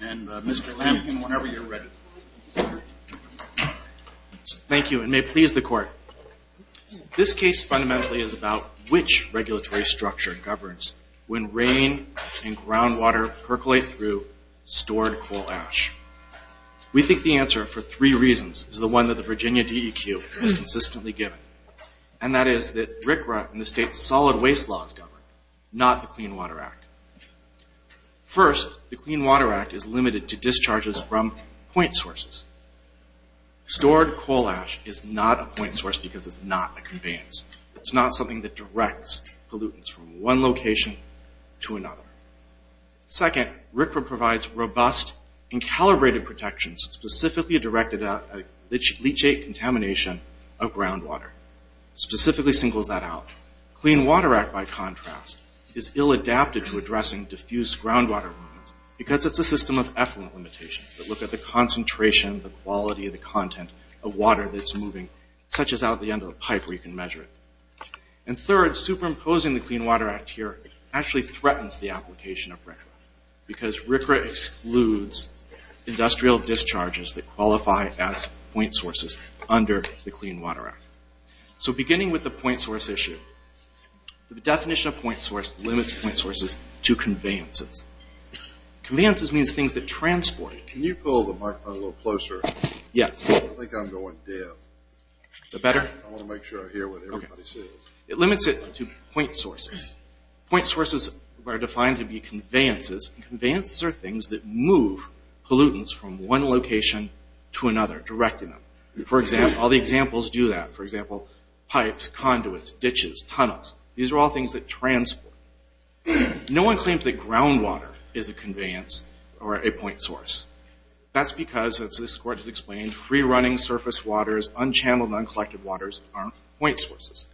and Mr. Lampkin whenever you're ready. Thank you and may please the court. This case fundamentally is about which regulatory structure governs when rain and groundwater percolate through stored coal ash. We think the answer for three reasons is the one that the Virginia DEQ has consistently given, and that is that RCRA and the state's solid waste laws govern, not the Clean Water Act. First, the Clean Water Act is limited to discharges from point sources. Stored coal ash is not a point source because it's not a conveyance. It's not something that directs pollutants from one location to another. Second, RCRA provides robust and calibrated protections specifically directed at leachate contamination of groundwater, specifically singles that out. Clean Diffuse Groundwater because it's a system of effluent limitations that look at the concentration, the quality of the content of water that's moving, such as out the end of the pipe where you can measure it. And third, superimposing the Clean Water Act here actually threatens the application of RCRA because RCRA excludes industrial discharges that qualify as point sources under the Clean Water Act. So beginning with the point source issue, the definition of point source limits point sources to conveyances. Conveyances means things that transport. Can you pull the microphone a little closer? Yes. I think I'm going deaf. Is that better? I want to make sure I hear what everybody says. It limits it to point sources. Point sources are defined to be conveyances. Conveyances are things that move pollutants from one location to another, directing them. For example, all the examples do that. For example, pipes, conduits, ditches, tunnels. These are all things that transport. No one claims that groundwater is a conveyance or a point source. That's because, as this court has explained, free-running surface waters, unchanneled, uncollected waters aren't point sources.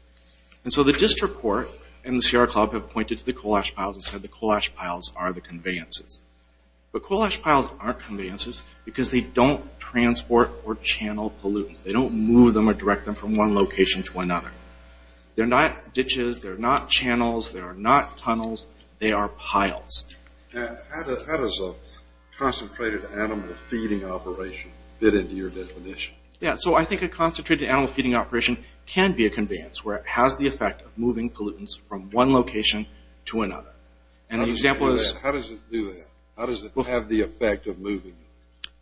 And so the district court and the Sierra Club have pointed to the coal ash piles and said the coal ash piles are the conveyances. But coal ash piles aren't conveyances because they don't transport or channel pollutants. They don't move them or direct them from one location to another. They're not ditches. They're not channels. They are not tunnels. They are piles. And how does a concentrated animal feeding operation fit into your definition? Yes. So I think a concentrated animal feeding operation can be a conveyance where it has the effect of moving pollutants from one location to another. And the example is... How does it do that? How does it have the effect of moving them?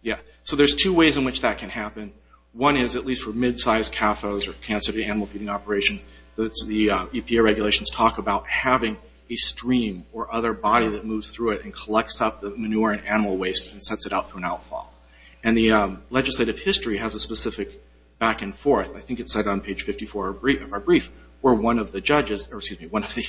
Yeah. So there's two ways in which that can happen. One is, at least for mid-sized CAFOs or concentrated animal feeding operations, the EPA regulations talk about having a stream or other body that moves through it and collects up the manure and animal waste and sets it up for an outfall. And the legislative history has a specific back and forth. I think it's set on page 54 of our brief where one of the judges, or excuse me, one of the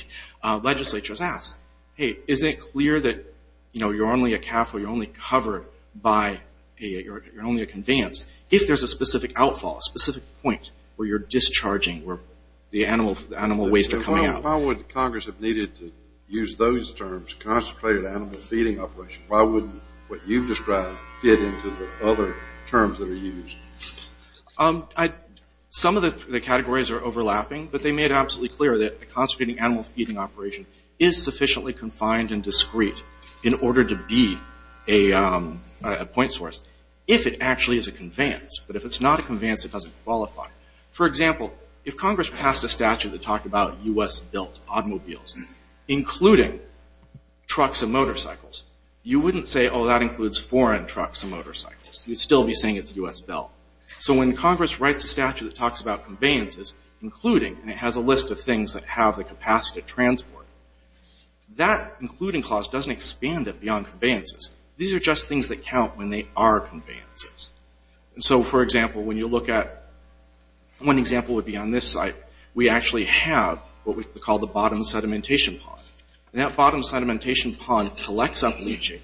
legislatures asks, hey, is it clear that, you know, you're only a CAFO, you're only covered by... You're only a conveyance if there's a specific outfall, a specific point where you're discharging, where the animal waste are coming out. How would Congress have needed to use those terms, concentrated animal feeding operation? Why wouldn't what you've described fit into the other terms that are used? Some of the categories are overlapping, but they made it absolutely clear that a concentrated animal feeding operation is sufficiently confined and discrete in order to be a point source, if it actually is a conveyance. But if it's not a conveyance, it doesn't qualify. For example, if Congress passed a statute that talked about U.S.-built automobiles, including trucks and motorcycles, you wouldn't say, oh, that includes foreign trucks and motorcycles. You'd still be saying it's U.S.-built. So when Congress writes a statute that talks about conveyances, including, and it has a list of things that have the capacity to transport, that including clause doesn't expand it beyond conveyances. These are just things that count when they are conveyances. So, for example, when you look at... One example would be on this site. We actually have what we call the bottom sedimentation pond. And that bottom sedimentation pond collects up leachate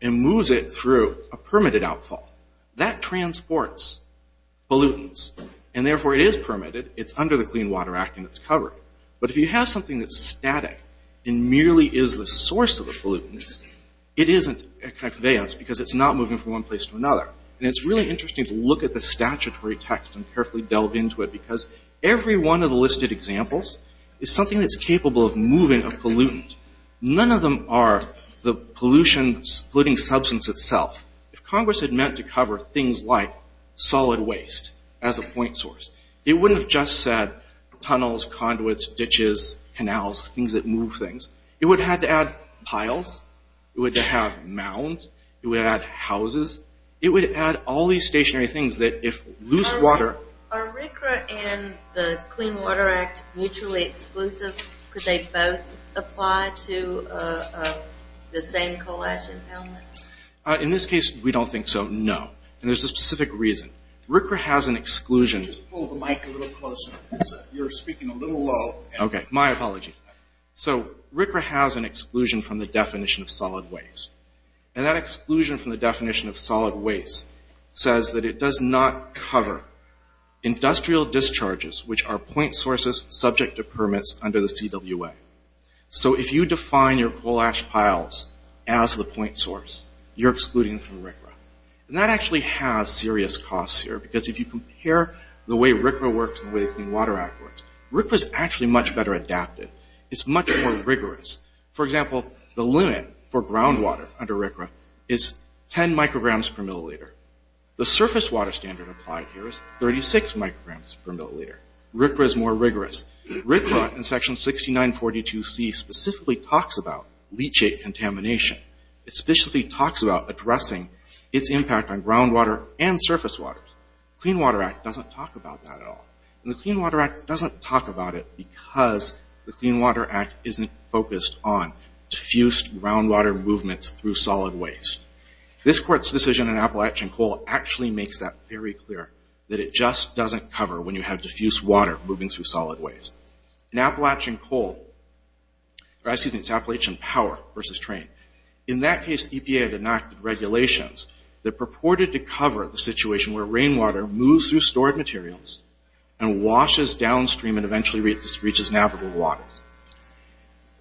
and moves it through a permitted outfall. That transports pollutants. And therefore, it is permitted. It's under the Clean Water Act and it's covered. But if you have something that's static and merely is the source of the pollutants, it isn't a conveyance because it's not moving from one place to another. And it's really interesting to look at the statutory text and carefully delve into it because every one of the listed examples is something that's capable of moving a pollutant. None of them are the pollution-splitting substance itself. If Congress had meant to cover things like solid waste as a point source, it wouldn't have just said tunnels, conduits, ditches, canals, things that move things. It would have had to add piles. It would have to have mounds. It would add houses. It would add all these stationary things that if loose water... Are RCRA and the Clean Water Act mutually exclusive? Could they both apply to the same coal ash impoundment? In this case, we don't think so, no. And there's a specific reason. RCRA has an exclusion... Just hold the mic a little closer. You're speaking a little low. Okay, my apologies. So RCRA has an exclusion from the definition of solid waste. And that exclusion from the definition of solid waste says that it does not cover industrial discharges, which are point sources subject to permits under the CWA. So if you define your coal ash piles as the point source, you're excluding from RCRA. And that actually has serious costs here because if you compare the way RCRA works and the way the Clean Water Act works, RCRA is actually much better adapted. It's much more rigorous. For example, the limit for groundwater under RCRA is 10 micrograms per milliliter. The surface water standard applied here is 36 micrograms per milliliter. RCRA is more rigorous. RCRA in Section 6942C specifically talks about leachate contamination. It specifically talks about addressing its impact on groundwater and surface water. Clean Water Act doesn't talk about that at all. And the Clean Water Act doesn't talk about it because the Clean Water Act isn't focused on diffused groundwater movements through solid waste. This Court's decision in Appalachian Coal actually makes that very clear, that it just doesn't cover when you have diffused water moving through solid waste. In Appalachian Coal, or excuse me, it's Appalachian Power versus Train. In that case, EPA had enacted regulations that purported to cover the situation where rainwater moves through stored materials and washes downstream and eventually reaches navigable waters.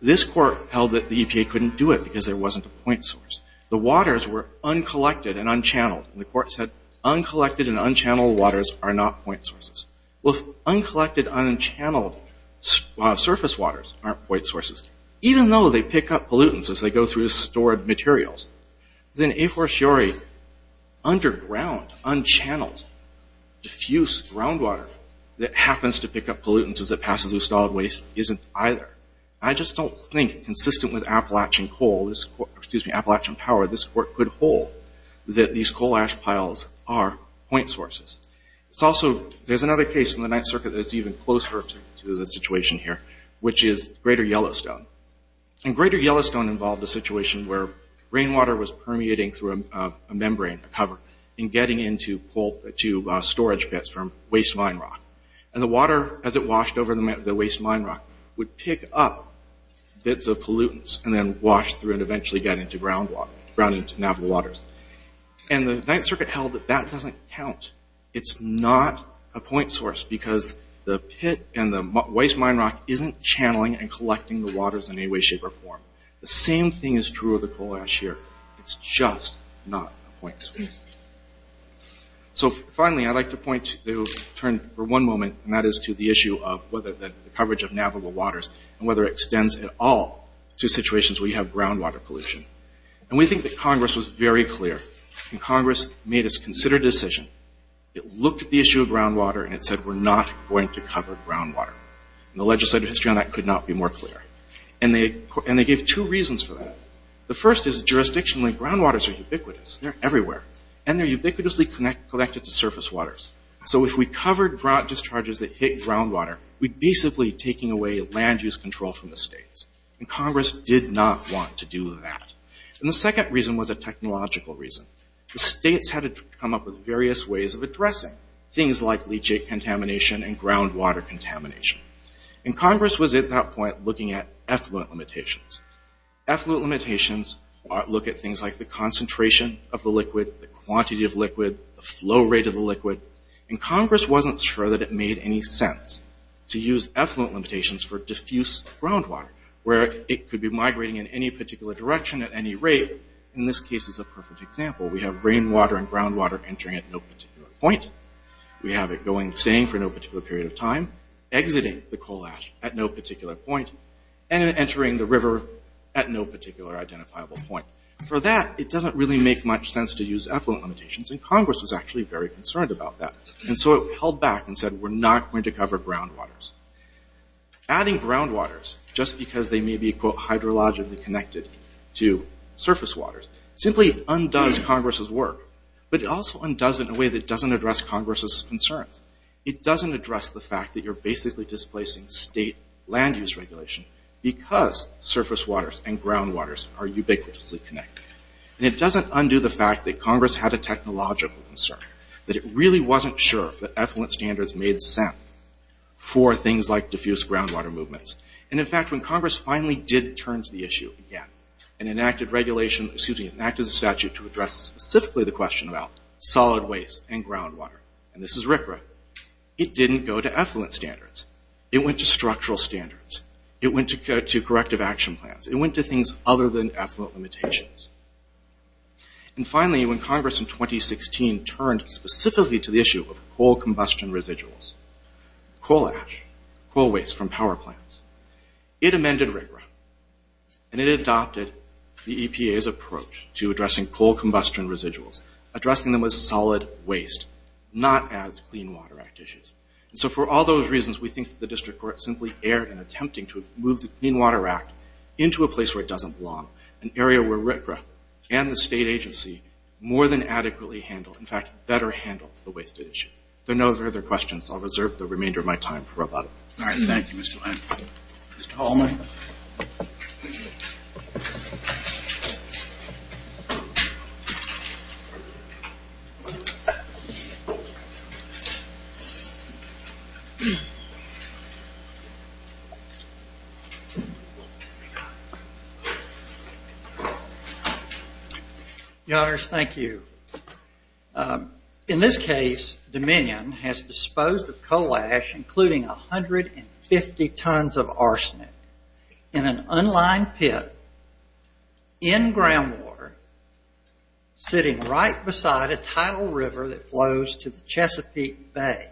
This Court held that the EPA couldn't do it because there wasn't a point source. The waters were uncollected and unchanneled. The Court said uncollected and unchanneled waters are not point sources. Well, if uncollected, unchanneled surface waters aren't point sources, even though they pick up pollutants as they go through stored materials, then a for sure underground, unchanneled, diffused groundwater that happens to pick up pollutants as it passes through solid waste isn't either. I just don't think consistent with Appalachian Coal, excuse me, Appalachian Power, this Court could hold that these coal ash piles are point sources. There's another case from the Ninth Circuit that's even closer to the situation here, which is Greater Yellowstone. And Greater Yellowstone involved a situation where rainwater was permeating through a membrane cover and getting into storage pits from waste mine rock. And the water, as it washed over the waste mine rock, would pick up bits of pollutants and then wash through and eventually get into groundwater, ground into navigable waters. And the Ninth Circuit held that that doesn't count. It's not a point source because the pit and the waste mine rock isn't channeling and collecting the waters in any way, shape, or form. The same thing is true of the coal ash here. It's just not a point source. So finally, I'd like to point to turn for one moment, and that is to the issue of whether the coverage of navigable waters and whether it extends at all to situations where you have groundwater pollution. And we think that Congress was very clear, and Congress made its considered decision. It looked at the issue of groundwater and it said, we're not going to cover groundwater. And the legislative history on that could not be more clear. And they gave two reasons for that. The first is, jurisdictionally, groundwaters are ubiquitous. They're everywhere. And they're ubiquitously connected to surface waters. So if we covered grout discharges that hit groundwater, we're basically taking away land use control from the states. And Congress did not want to do that. And the second reason was a technological reason. The states had to come up with various ways of addressing things like leachate contamination and groundwater contamination. And Congress was, at that point, looking at effluent limitations. The flow rate of the liquid. And Congress wasn't sure that it made any sense to use effluent limitations for diffuse groundwater, where it could be migrating in any particular direction at any rate. In this case, it's a perfect example. We have rainwater and groundwater entering at no particular point. We have it going and staying for no particular period of time, exiting the coal ash at no particular point, and entering the river at no particular identifiable point. For that, it doesn't really make much sense to use effluent limitations. And Congress was actually very concerned about that. And so it held back and said, we're not going to cover groundwaters. Adding groundwaters, just because they may be, quote, hydrologically connected to surface waters, simply undoes Congress's work. But it also undoes it in a way that doesn't address Congress's concerns. It doesn't address the fact that you're basically displacing state land use regulation because surface waters and groundwaters are ubiquitously connected. And it doesn't undo the fact that Congress had a technological concern, that it really wasn't sure that effluent standards made sense for things like diffuse groundwater movements. And in fact, when Congress finally did turn to the issue again and enacted regulation, excuse me, enacted a statute to address specifically the question about solid waste and groundwater, and this is RCRA, it didn't go to effluent standards. It went to structural standards. It went to corrective action plans. It went to things other than effluent limitations. And finally, when Congress in 2016 turned specifically to the issue of coal combustion residuals, coal ash, coal waste from power plants, it amended RCRA. And it adopted the EPA's approach to addressing coal combustion residuals, addressing them as solid waste, not as Clean Water Act issues. So for all those reasons, we think the district court simply erred in attempting to move the Clean Water Act into a place where it doesn't belong, an area where RCRA and the state agency more than adequately handle, in fact, better handle the waste issue. There are no further questions. I'll reserve the remainder of my time for about a minute. All right. Thank you, Mr. Lang. Mr. Hallman. Your Honors, thank you. In this case, Dominion has disposed of coal ash, including 150 tons of arsenic, in an unlined pit in groundwater, sitting right beside a tidal river that flows to the Chesapeake Bay.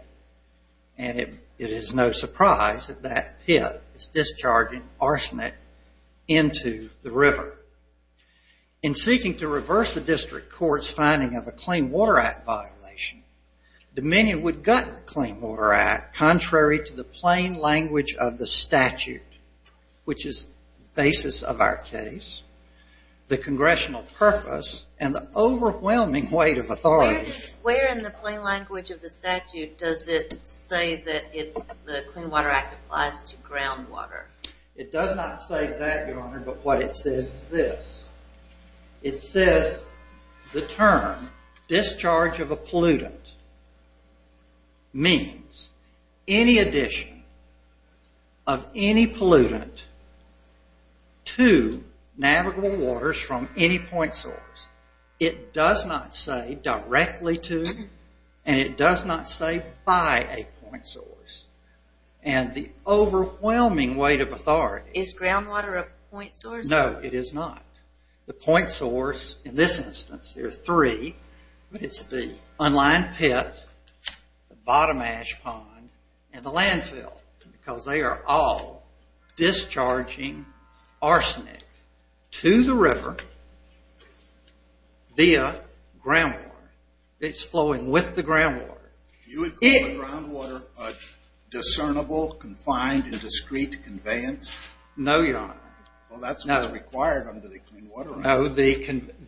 And it is no surprise that that pit is discharging arsenic into the river. In seeking to reverse the district court's finding of a Clean Water Act violation, Dominion would have gotten the Clean Water Act contrary to the plain language of the statute, which is the basis of our case, the congressional purpose, and the overwhelming weight of authorities. Where in the plain language of the statute does it say that the Clean Water Act applies to groundwater? It does not say that, Your Honor, but what it says is this. It says the term discharge of a pollutant means any addition of any pollutant to navigable waters from any point source. It does not say directly to, and it does not say by a point source. And the overwhelming weight of authority- Is groundwater a point source? No, it is not. The point source, in this instance, there are three. It's the unlined pit, the bottom ash pond, and the landfill, because they are all discharging arsenic to the river via groundwater. It's flowing with the groundwater. You would call the groundwater discernible, confined, and discrete conveyance? No, Your Honor. Well, that's what's required under the Clean Water Act.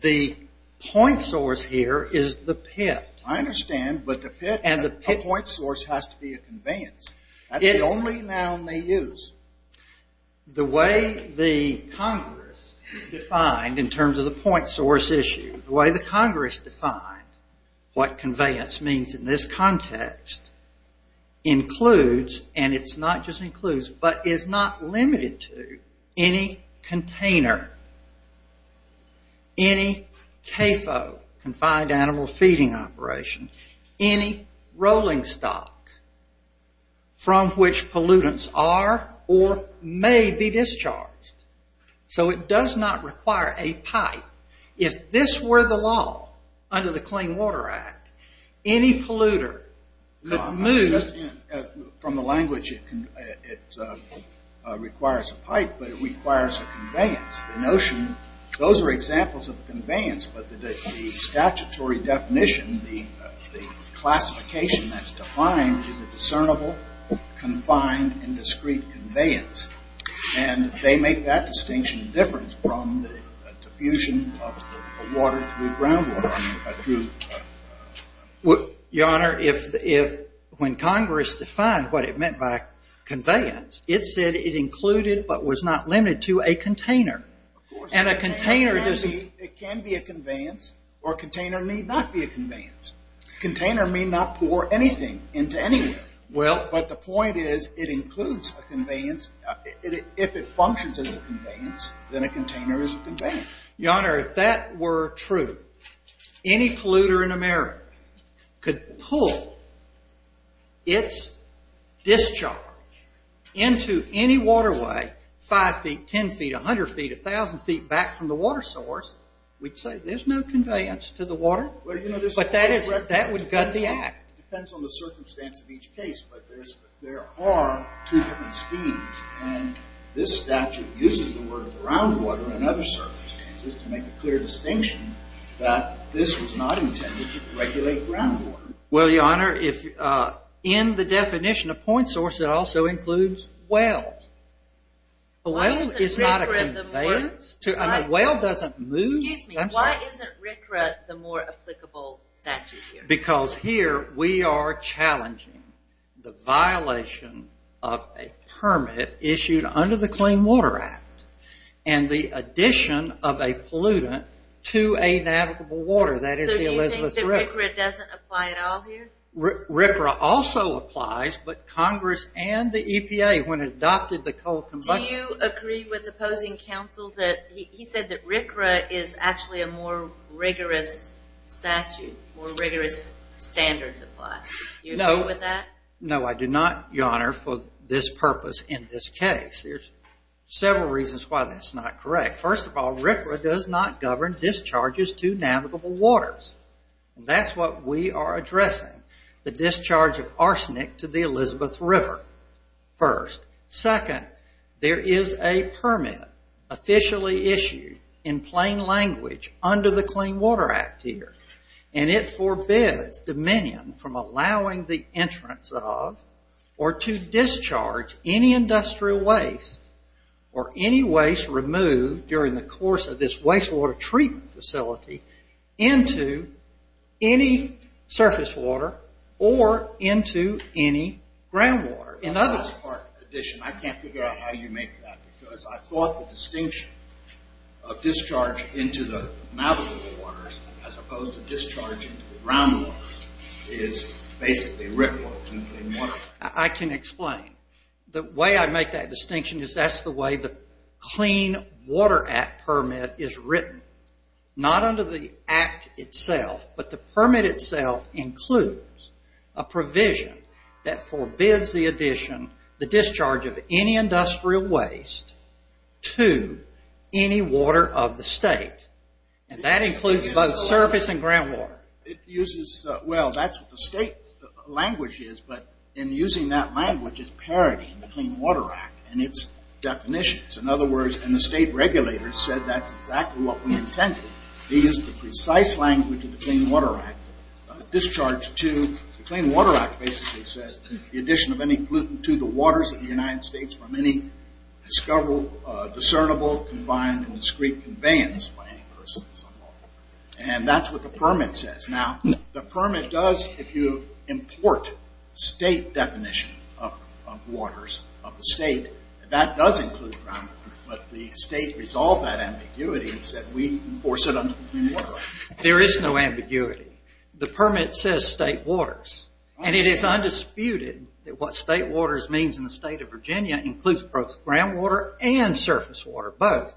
The point source here is the pit. I understand, but the pit, a point source has to be a conveyance. It only now may use. The way the Congress defined, in terms of the point source issue, the way the Congress defined what conveyance means in this context includes, and it's not just includes, but is not limited to any container, any CAFO, confined animal feeding operation, any rolling stock from which pollutants are or may be discharged. So it does not require a pipe. If this were the law under the Clean Water Act, any polluter could move- From the language, it requires a pipe, but it requires a conveyance. The notion, those are examples of conveyance, but the statutory definition, the classification that's defined is a discernible, confined, and discrete conveyance. And they make that distinction different from the diffusion of the water through groundwater, through- Your Honor, when Congress defined what it meant by conveyance, it said it included, but was not limited to, a container. And a container doesn't- It can be a conveyance, or a container may not be a conveyance. Container may not pour anything into anywhere. Well- But the point is, it includes a conveyance. If it functions as a conveyance, then a container is a conveyance. Your Honor, if that were true, any polluter in America could pull its discharge into any waterway, five feet, ten feet, a hundred feet, a thousand feet back from the water source, we'd say there's no conveyance to the water. But that would gut the act. Depends on the circumstance of each case, but there are two different schemes. And this statute uses the word groundwater in other circumstances to make a clear distinction that this was not intended to regulate groundwater. Well, Your Honor, in the definition of point source, it also includes wells. A well is not a conveyance. A well doesn't move. Excuse me, why isn't RCRA the more applicable statute here? Because here we are challenging the violation of a permit issued under the Clean Water Act, and the addition of a pollutant to a navigable water, that is the Elizabeth River. So you think that RCRA doesn't apply at all here? RCRA also applies, but Congress and the EPA, when it adopted the coal combustion... Do you agree with opposing counsel that he said that RCRA is actually a more rigorous statute, more rigorous standards apply? Do you agree with that? No, I do not, Your Honor, for this purpose in this case. There's several reasons why that's not correct. First of all, RCRA does not govern discharges to navigable waters. That's what we are addressing. The discharge of arsenic to the Elizabeth River. First. Second, there is a permit officially issued in plain language under the Clean Water Act here, and it forbids Dominion from allowing the entrance of or to discharge any industrial waste or any waste removed during the course of this wastewater treatment facility into any surface water or into any groundwater. In other words... In addition, I can't figure out how you make that, because I thought the distinction of discharge into the navigable waters as opposed to discharge into the groundwater is basically written in plain language. I can explain. The way I make that distinction is that's the way the Clean Water Act permit is written. Not under the act itself, but the permit itself includes a provision that forbids the addition, the discharge of any industrial waste to any water of the state. And that includes both surface and groundwater. It uses... Well, that's what the state language is, but in using that language, it's parodying the Clean Water Act and its definitions. In other words, and the state regulators said that's exactly what we intended. They used the precise language of the Clean Water Act. Discharge to the Clean Water Act basically says the addition of any pollutant to the waters of the United States from any discoverable, discernible, confined, and discreet conveyance by any person is unlawful. And that's what the permit says. Now, the permit does, if you import state definition of waters of the state, that does include groundwater. But the state resolved that ambiguity and said, we enforce it under the Clean Water Act. There is no ambiguity. The permit says state waters. And it is undisputed that what state waters means in the state of Virginia includes both groundwater and surface water, both.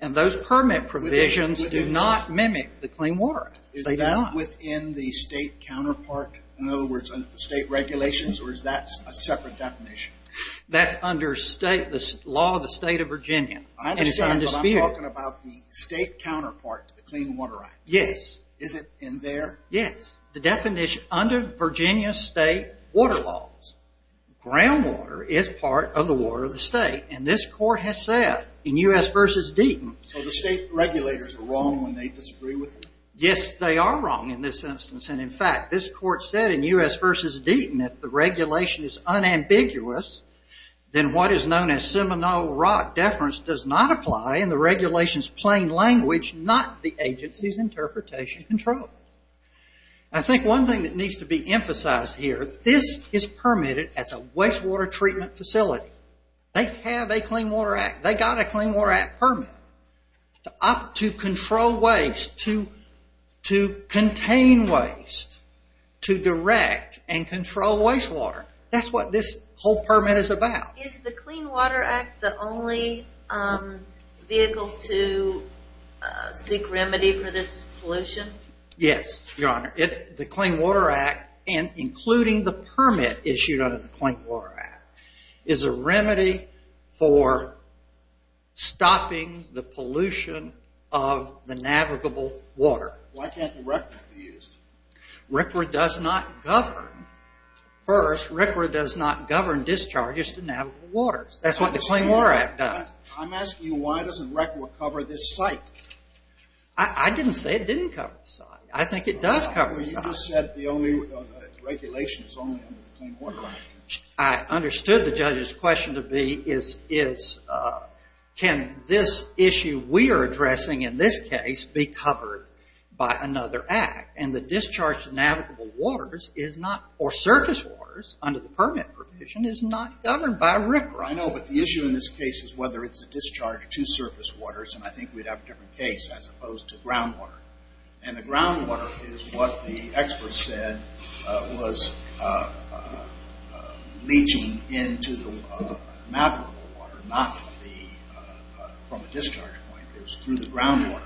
And those permit provisions do not mimic the Clean Water Act. Is it within the state counterpart? In other words, under the state regulations, or is that a separate definition? That's under the law of the state of Virginia. I understand, but I'm talking about the state counterpart to the Clean Water Act. Yes. Is it in there? Yes. The definition under Virginia state water laws, groundwater is part of the water of the state. And this court has said, in U.S. v. Deaton, So the state regulators are wrong when they disagree with it? Yes, they are wrong in this instance. And in fact, this court said in U.S. v. Deaton, If the regulation is unambiguous, then what is known as Seminole Rock Deference does not apply in the regulation's plain language, not the agency's interpretation control. I think one thing that needs to be emphasized here, this is permitted as a wastewater treatment facility. They have a Clean Water Act. They got a Clean Water Act permit to control waste, to contain waste, to direct and control wastewater. That's what this whole permit is about. Is the Clean Water Act the only vehicle to seek remedy for this pollution? Yes, Your Honor. The Clean Water Act, and including the permit issued under the Clean Water Act, is a remedy for stopping the pollution of the navigable water. Why can't the REC Act be used? RCRA does not govern. First, RCRA does not govern discharges to navigable waters. That's what the Clean Water Act does. I'm asking you, why doesn't RCRA cover this site? I didn't say it didn't cover the site. I think it does cover the site. You just said the only regulation is only under the Clean Water Act. I understood the judge's question to be, can this issue we are addressing in this case be covered by another act? And the discharge to navigable waters is not, or surface waters under the permit provision, is not governed by RCRA. I know, but the issue in this case is whether it's a discharge to surface waters. And I think we'd have a different case as opposed to groundwater. And the groundwater is what the experts said was leaching into the navigable water, not from a discharge point. It was through the groundwater.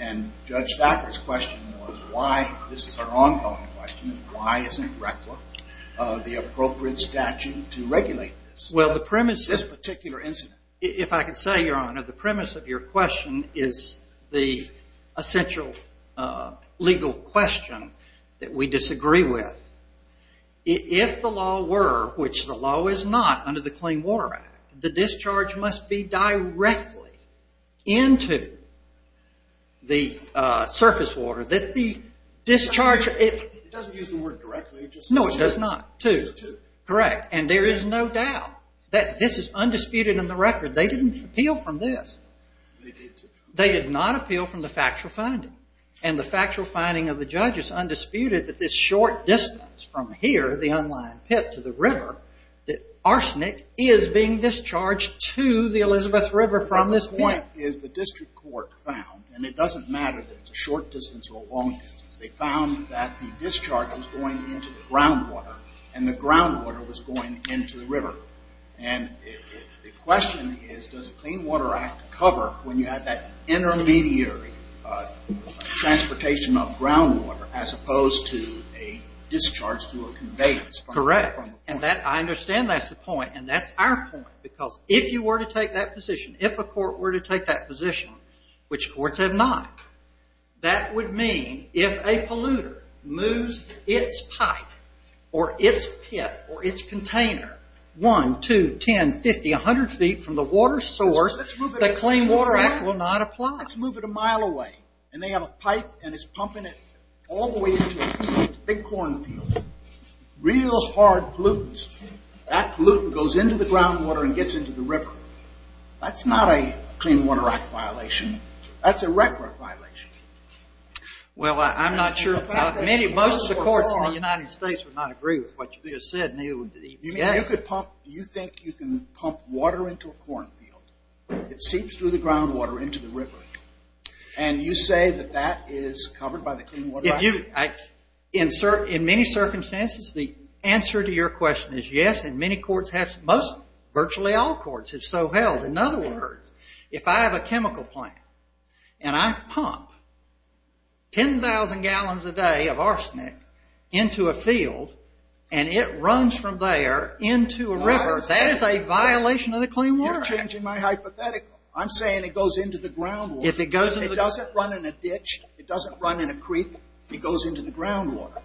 And Judge Stackler's question was why, this is our ongoing question, why isn't RECLA the appropriate statute to regulate this? Well, the premise of this particular incident. If I could say, Your Honor, the premise of your question is the essential legal question that we disagree with. If the law were, which the law is not under the Clean Water Act, the discharge must be directly into the surface water. That the discharge, it doesn't use the word directly. No, it does not. Two. Correct. And there is no doubt that this is undisputed in the record. They didn't appeal from this. They did not appeal from the factual finding. And the factual finding of the judge is undisputed that this short distance from here, the unlined pit to the river, that arsenic is being discharged to the Elizabeth River from this point. Is the district court found, and it doesn't matter that it's a short distance or a long distance, they found that the discharge was going into the groundwater. And the groundwater was going into the river. And the question is, does the Clean Water Act cover when you have that intermediary transportation of groundwater as opposed to a discharge through a conveyance from the point? Correct. And I understand that's the point. And that's our point. Because if you were to take that position, if a court were to take that position, which courts have not, that would mean if a polluter moves its pipe, or its pit, or its container, 1, 2, 10, 50, 100 feet from the water source, the Clean Water Act will not apply. Let's move it a mile away. And they have a pipe, and it's pumping it all the way into a big cornfield. Real hard pollutants. That pollutant goes into the groundwater and gets into the river. That's not a Clean Water Act violation. That's a record violation. Well, I'm not sure. Most of the courts in the United States would not agree with what you just said, Neil, with the EPA. You think you can pump water into a cornfield. It seeps through the groundwater into the river. And you say that that is covered by the Clean Water Act? In many circumstances, the answer to your question is yes. And many courts have, virtually all courts, have so held. In other words, if I have a chemical plant, and I pump 10,000 gallons a day of arsenic into a field, and it runs from there into a river, that is a violation of the Clean Water Act. You're changing my hypothetical. I'm saying it goes into the groundwater. If it goes into the... It doesn't run in a ditch. It doesn't run in a creek. It goes into the groundwater.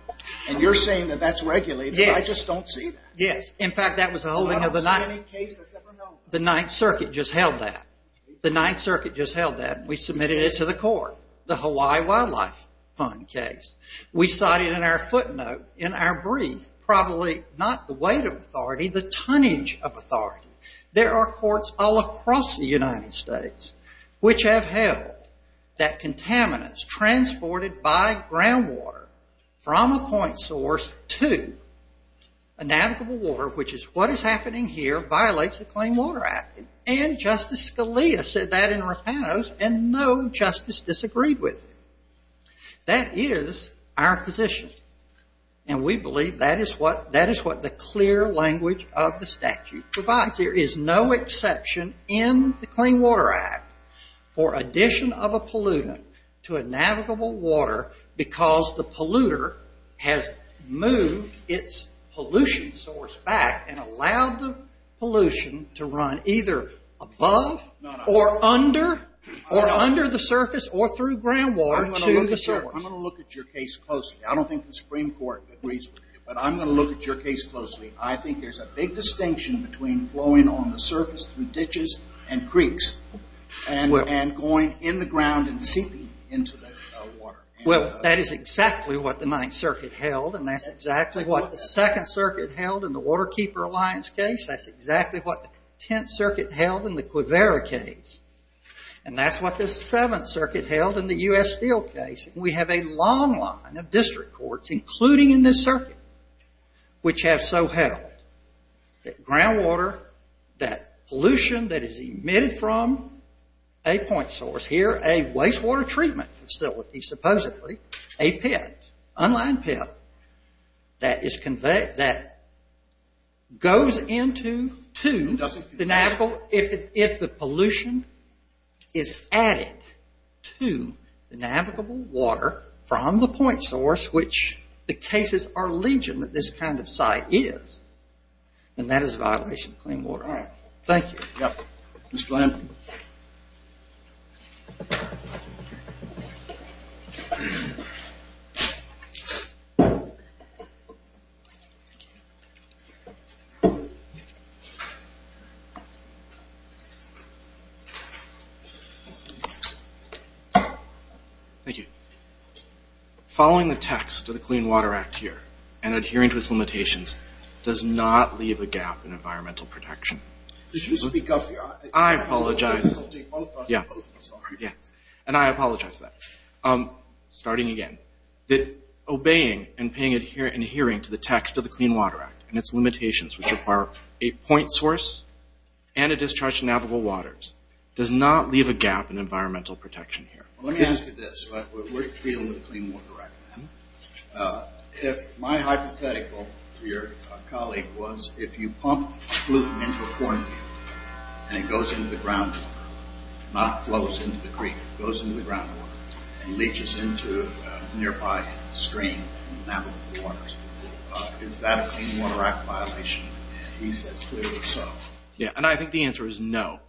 And you're saying that that's regulated. I just don't see that. Yes. In fact, that was a holding of the 9th... I don't see any case that's ever known. The 9th Circuit just held that. The 9th Circuit just held that. We submitted it to the court, the Hawaii Wildlife Fund case. We cited in our footnote, in our brief, probably not the weight of authority, the tonnage of authority. There are courts all across the United States which have held that contaminants transported by groundwater from a point source to a navigable water, which is what is happening here, violates the Clean Water Act. And Justice Scalia said that in Rapinos, and no justice disagreed with it. That is our position. And we believe that is what the clear language of the statute provides. There is no exception in the Clean Water Act for addition of a pollutant to a navigable water because the polluter has moved its pollution source back and allowed the pollution to run either above or under, or under the surface or through groundwater to the surface. I'm going to look at your case closely. I don't think the Supreme Court agrees with you, but I'm going to look at your case closely. I think there's a big distinction between flowing on the surface through ditches and creeks and going in the ground and seeping into the water. Well, that is exactly what the 9th Circuit held, and that's exactly what the 2nd Circuit held, and the Waterkeeper Alliance case. That's exactly what the 10th Circuit held in the Quivira case. And that's what the 7th Circuit held in the U.S. Steel case. We have a long line of district courts, including in this circuit, which have so held that groundwater, that pollution that is emitted from a point source here, a wastewater treatment facility, supposedly, a pit, unlined pit, that goes into the navigable, if the pollution is added to the navigable water from the point source, which the cases are legion that this kind of site is, then that is a violation of clean water. All right. Thank you. Yeah. Mr. Lamb. Thank you. Following the text of the Clean Water Act here and adhering to its limitations does not leave a gap in environmental protection. Could you speak up here? I apologize. Yeah. Yeah. And I apologize for that. Starting again. Obeying and adhering to the text of the Clean Water Act and its limitations, which require a point source and a discharge to navigable waters does not leave a gap in environmental protection here. Let me ask you this. We're dealing with the Clean Water Act. If my hypothetical for your colleague was if you pump gluten into a corn field and it goes into the ground water, not flows into the creek, goes into the ground water and leaches into a nearby stream from navigable waters, is that a Clean Water Act violation? He says clearly so. Yeah. And I think the answer is no.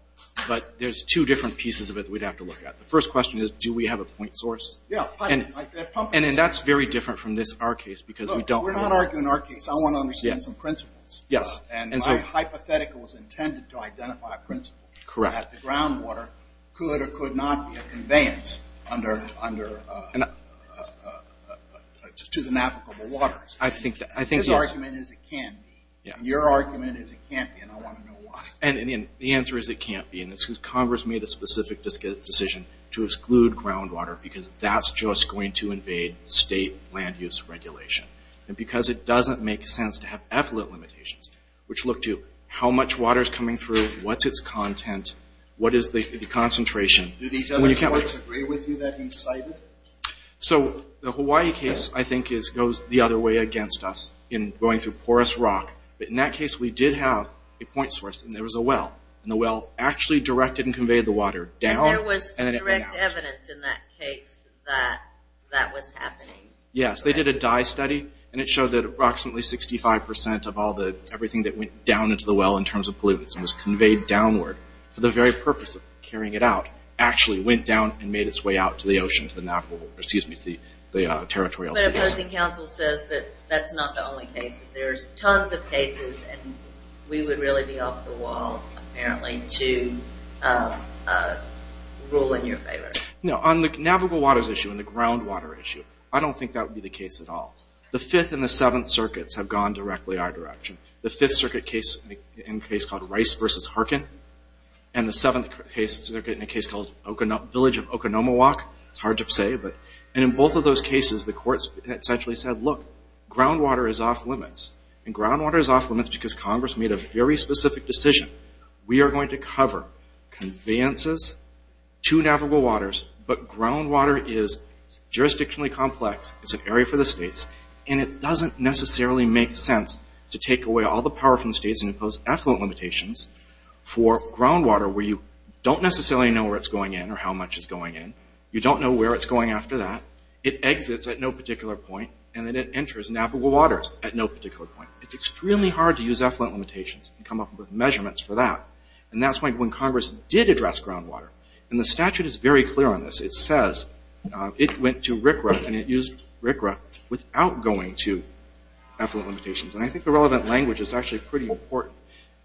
But there's two different pieces of it we'd have to look at. The first question is, do we have a point source? Yeah. And that's very different from this, our case, because we don't. We're not arguing our case. I want to understand some principles. Yes. And my hypothetical is intended to identify principles. Correct. That the ground water could or could not be a conveyance to the navigable waters. I think that, yes. His argument is it can't be. Your argument is it can't be, and I want to know why. And the answer is it can't be. And it's because Congress made a specific decision to exclude groundwater because that's just going to invade state land use regulation. And because it doesn't make sense to have effluent limitations, which look to how much water's coming through, what's its content, what is the concentration. Do these other courts agree with you that you cited? So the Hawaii case, I think, goes the other way against us in going through porous rock. But in that case, we did have a point source, and there was a well. And the well actually directed and conveyed the water down. And there was direct evidence in that case that that was happening. Yes, they did a dye study, and it showed that approximately 65% of all the, everything that went down into the well in terms of pollutants, and was conveyed downward for the very purpose of carrying it out, actually went down and made its way out to the ocean, to the navigable, or excuse me, to the territorial sea. But opposing counsel says that that's not the only case. There's tons of cases, and we would really be off the wall, apparently, to rule in your favor. No, on the navigable waters issue and the groundwater issue, I don't think that would be the case at all. The Fifth and the Seventh Circuits have gone directly our direction. The Fifth Circuit case, in a case called Rice versus Harkin, and the Seventh Circuit in a case called Village of Okonomowoc, it's hard to say, and in both of those cases, the courts essentially said, look, groundwater is off limits. And groundwater is off limits because Congress made a very specific decision. We are going to cover conveyances to navigable waters, but groundwater is jurisdictionally complex. It's an area for the states, and it doesn't necessarily make sense to take away all the power from the states and impose effluent limitations for groundwater, where you don't necessarily know where it's going in or how much is going in. You don't know where it's going after that. It exits at no particular point, and then it enters navigable waters at no particular point. It's extremely hard to use effluent limitations and come up with measurements for that. And that's why when Congress did address groundwater, and the statute is very clear on this, it says it went to RCRA and it used RCRA without going to effluent limitations. And I think the relevant language is actually pretty important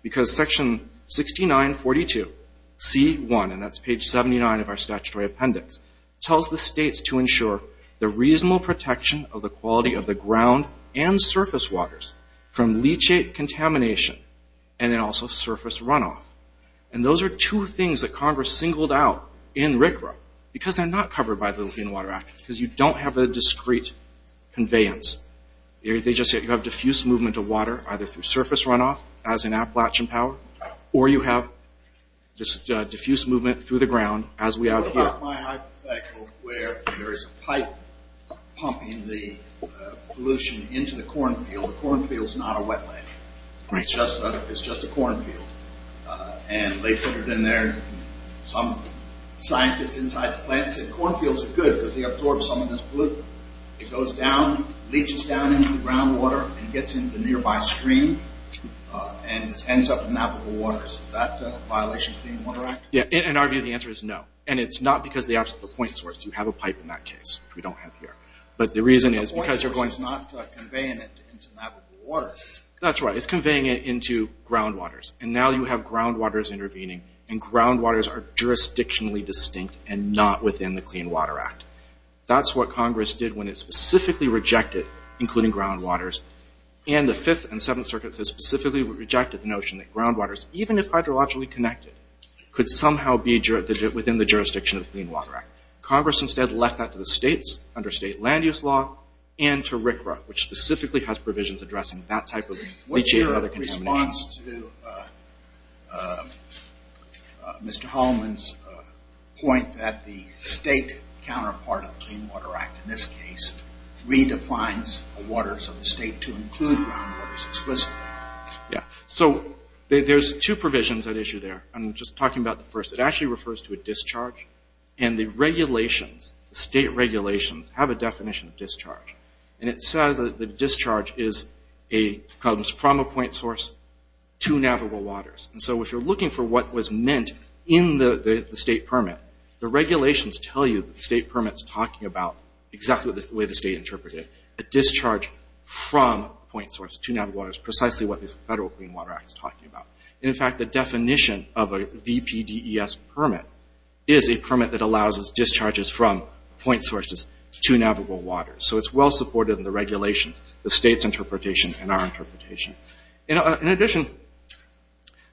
because section 6942C1, and that's page 79 of our statutory appendix, tells the states to ensure the reasonable protection of the quality of the ground and surface waters from leachate contamination and then also surface runoff. And those are two things that Congress singled out in RCRA because they're not covered by the Lithuanian Water Act because you don't have a discrete conveyance. They just say you have diffuse movement of water, either through surface runoff as in Appalachian Power, or you have just diffuse movement through the ground as we have here. What about my hypothetical where there is a pipe pumping the pollution into the cornfield? The cornfield's not a wetland. It's just a cornfield. And they put it in there. Some scientists inside the plant said cornfields are good because they absorb some of this pollutant. It goes down, leaches down into the groundwater and gets into the nearby stream and ends up in navigable waters. Is that a violation of the Clean Water Act? Yeah, in our view, the answer is no. And it's not because of the absolute point source. You have a pipe in that case, which we don't have here. But the reason is because you're going to- The point source is not conveying it into navigable waters. That's right. It's conveying it into groundwaters. And now you have groundwaters intervening and groundwaters are jurisdictionally distinct and not within the Clean Water Act. That's what Congress did when it specifically rejected, including groundwaters, and the Fifth and Seventh Circuits has specifically rejected the notion that groundwaters, even if hydrologically connected, could somehow be within the jurisdiction of the Clean Water Act. Congress instead left that to the states under state land use law and to RCRA, which specifically has provisions addressing that type of leachate or other contaminations. It corresponds to Mr. Hallman's point that the state counterpart of the Clean Water Act, in this case, redefines the waters of the state to include groundwaters explicitly. Yeah, so there's two provisions at issue there. I'm just talking about the first. It actually refers to a discharge. And the regulations, the state regulations, have a definition of discharge. And it says that the discharge is a, comes from a point source to navigable waters. And so if you're looking for what was meant in the state permit, the regulations tell you that the state permit's talking about exactly the way the state interpreted it. A discharge from point source to navigable waters, precisely what this Federal Clean Water Act is talking about. In fact, the definition of a VPDES permit is a permit that allows us discharges from point sources to navigable waters. So it's well supported in the regulations, the state's interpretation, and our interpretation. In addition,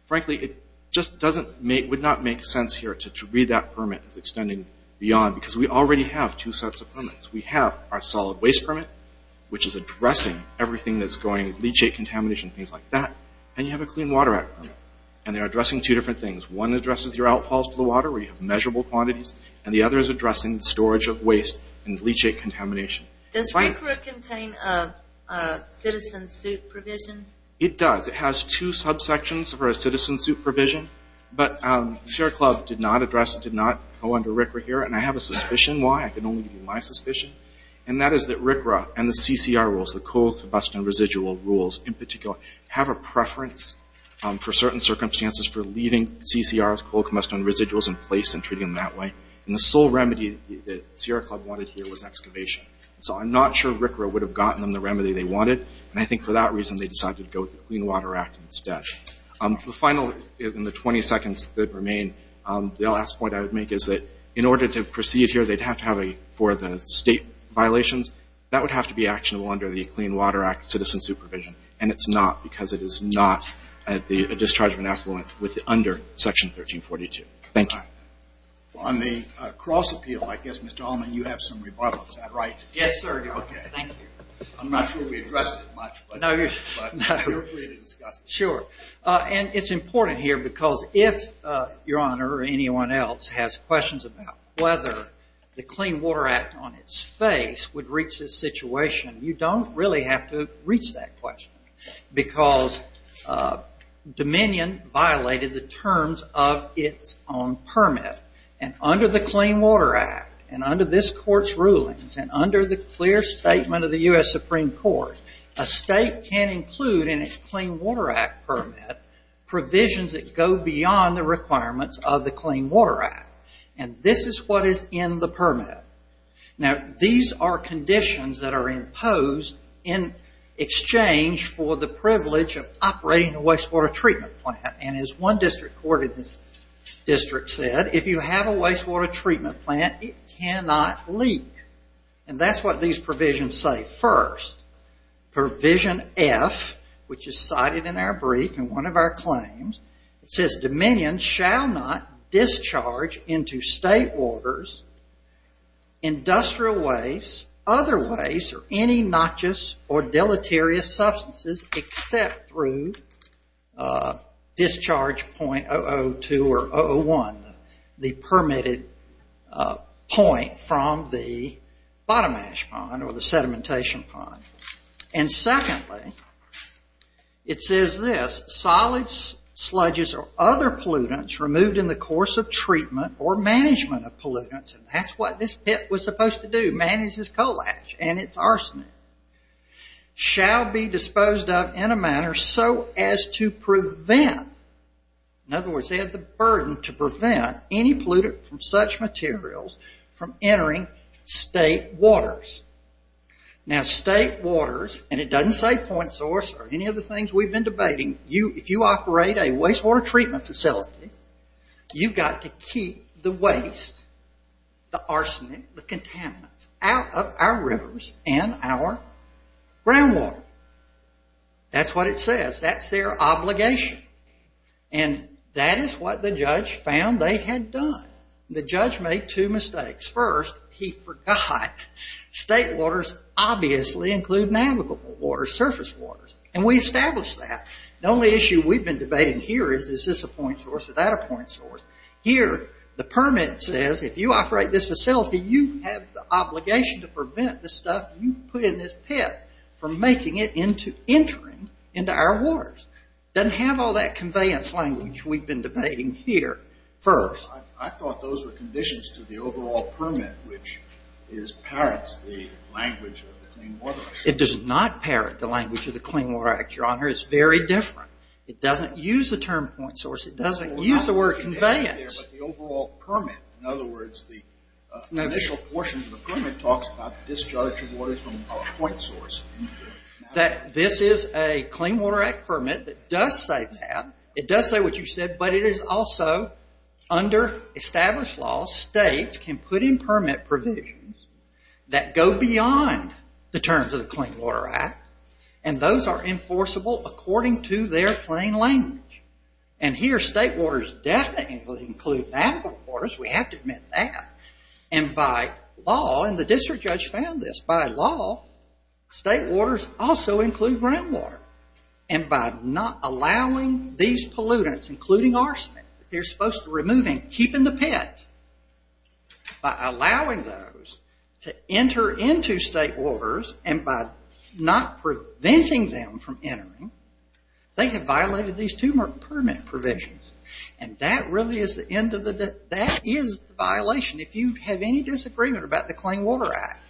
frankly, it just doesn't make, would not make sense here to read that permit as extending beyond, because we already have two sets of permits. We have our solid waste permit, which is addressing everything that's going, leachate contamination, things like that. And you have a Clean Water Act permit. And they're addressing two different things. One addresses your outfalls to the water, where you have measurable quantities. And the other is addressing the storage of waste and leachate contamination. Does RCRA contain a citizen suit provision? It does. It has two subsections for a citizen suit provision. But Sierra Club did not address, did not go under RCRA here. And I have a suspicion why. I can only give you my suspicion. And that is that RCRA and the CCR rules, the Coal Combustion Residual rules in particular, have a preference for certain circumstances for leaving CCRs, Coal Combustion Residuals in place and treating them that way. And the sole remedy that Sierra Club wanted here was excavation. So I'm not sure RCRA would have gotten them the remedy they wanted. And I think for that reason, they decided to go with the Clean Water Act instead. The final, in the 20 seconds that remain, the last point I would make is that in order to proceed here, they'd have to have a, for the state violations, that would have to be actionable under the Clean Water Act citizen supervision. And it's not because it is not a discharge of an affluent with under section 1342. Thank you. On the cross appeal, I guess, Mr. Allman, you have some rebuttals, is that right? Yes, sir, Your Honor. Okay. Thank you. I'm not sure we addressed it much, but you're free to discuss it. Sure. And it's important here, because if Your Honor or anyone else has questions about whether the Clean Water Act on its face would reach this situation, you don't really have to reach that question. Because Dominion violated the terms of its own permit. And under the Clean Water Act, and under this court's rulings, and under the clear statement of the U.S. Supreme Court, a state can include in its Clean Water Act permit provisions that go beyond the requirements of the Clean Water Act. And this is what is in the permit. Now, these are conditions that are imposed in exchange for the privilege of operating a wastewater treatment plant. And as one district court in this district said, if you have a wastewater treatment plant, it cannot leak. And that's what these provisions say. First, provision F, which is cited in our brief in one of our claims, it says Dominion shall not discharge into state waters industrial waste, other waste, or any noxious or deleterious substances except through discharge point 002 or 001, the permitted point from the bottom ash pond or the sedimentation pond. And secondly, it says this, solids, sludges, or other pollutants removed in the course of treatment or management of pollutants, and that's what this pit was supposed to do, manage this coal ash and its arsenic, shall be disposed of in a manner so as to prevent, in other words, they have the burden to prevent any pollutant from such materials from entering state waters. Now, state waters, and it doesn't say point source or any of the things we've been debating, if you operate a wastewater treatment facility, you've got to keep the waste, the arsenic, the contaminants out of our rivers and our groundwater. That's what it says, that's their obligation. And that is what the judge found they had done. The judge made two mistakes. First, he forgot state waters obviously include navigable waters, surface waters, and we established that. The only issue we've been debating here is, is this a point source, is that a point source? Here, the permit says if you operate this facility, you have the obligation to prevent the stuff you put in this pit from making it into, entering into our waters. Doesn't have all that conveyance language we've been debating here. First. I thought those were conditions to the overall permit, which parrots the language of the Clean Water Act. It does not parrot the language of the Clean Water Act, Your Honor, it's very different. It doesn't use the term point source, it doesn't use the word conveyance. The overall permit, in other words, the initial portions of the permit talks about the discharge of waters from a point source. That this is a Clean Water Act permit that does say that. It does say what you said, but it is also, under established law, states can put in permit provisions that go beyond the terms of the Clean Water Act, and those are enforceable according to their plain language. And here, state waters definitely include navigable waters, we have to admit that. And by law, and the district judge found this, by law, state waters also include groundwater. And by not allowing these pollutants, including arsenic, they're supposed to remove and keep in the pit. By allowing those to enter into state waters, and by not preventing them from entering, they have violated these two permit provisions. And that really is the end of the, that is the violation. If you have any disagreement about the Clean Water Act,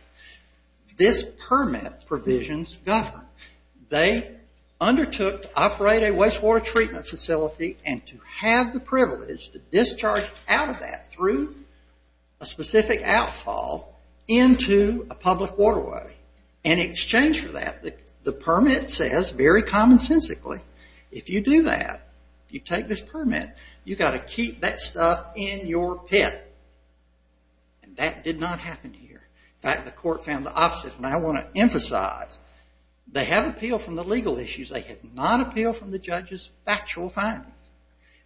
this permit provisions govern. They undertook to operate a wastewater treatment facility, and to have the privilege to discharge out of that through a specific outfall into a public waterway. In exchange for that, the permit says, very commonsensically, if you do that, you take this permit, you gotta keep that stuff in your pit. And that did not happen here. In fact, the court found the opposite. And I want to emphasize, they have appeal from the legal issues, they have not appealed from the judge's factual findings.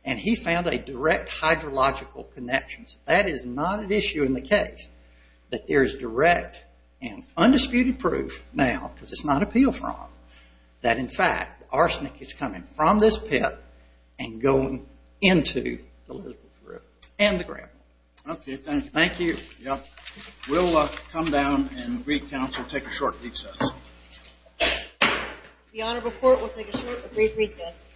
And he found a direct hydrological connections. That is not an issue in the case, that there is direct and undisputed proof now, because it's not appealed from, that in fact, arsenic is coming from this pit, and going into the Elizabeth River. And the gravel. Okay, thank you. Thank you. We'll come down and brief counsel, take a short recess. The honorable court will take a short brief recess.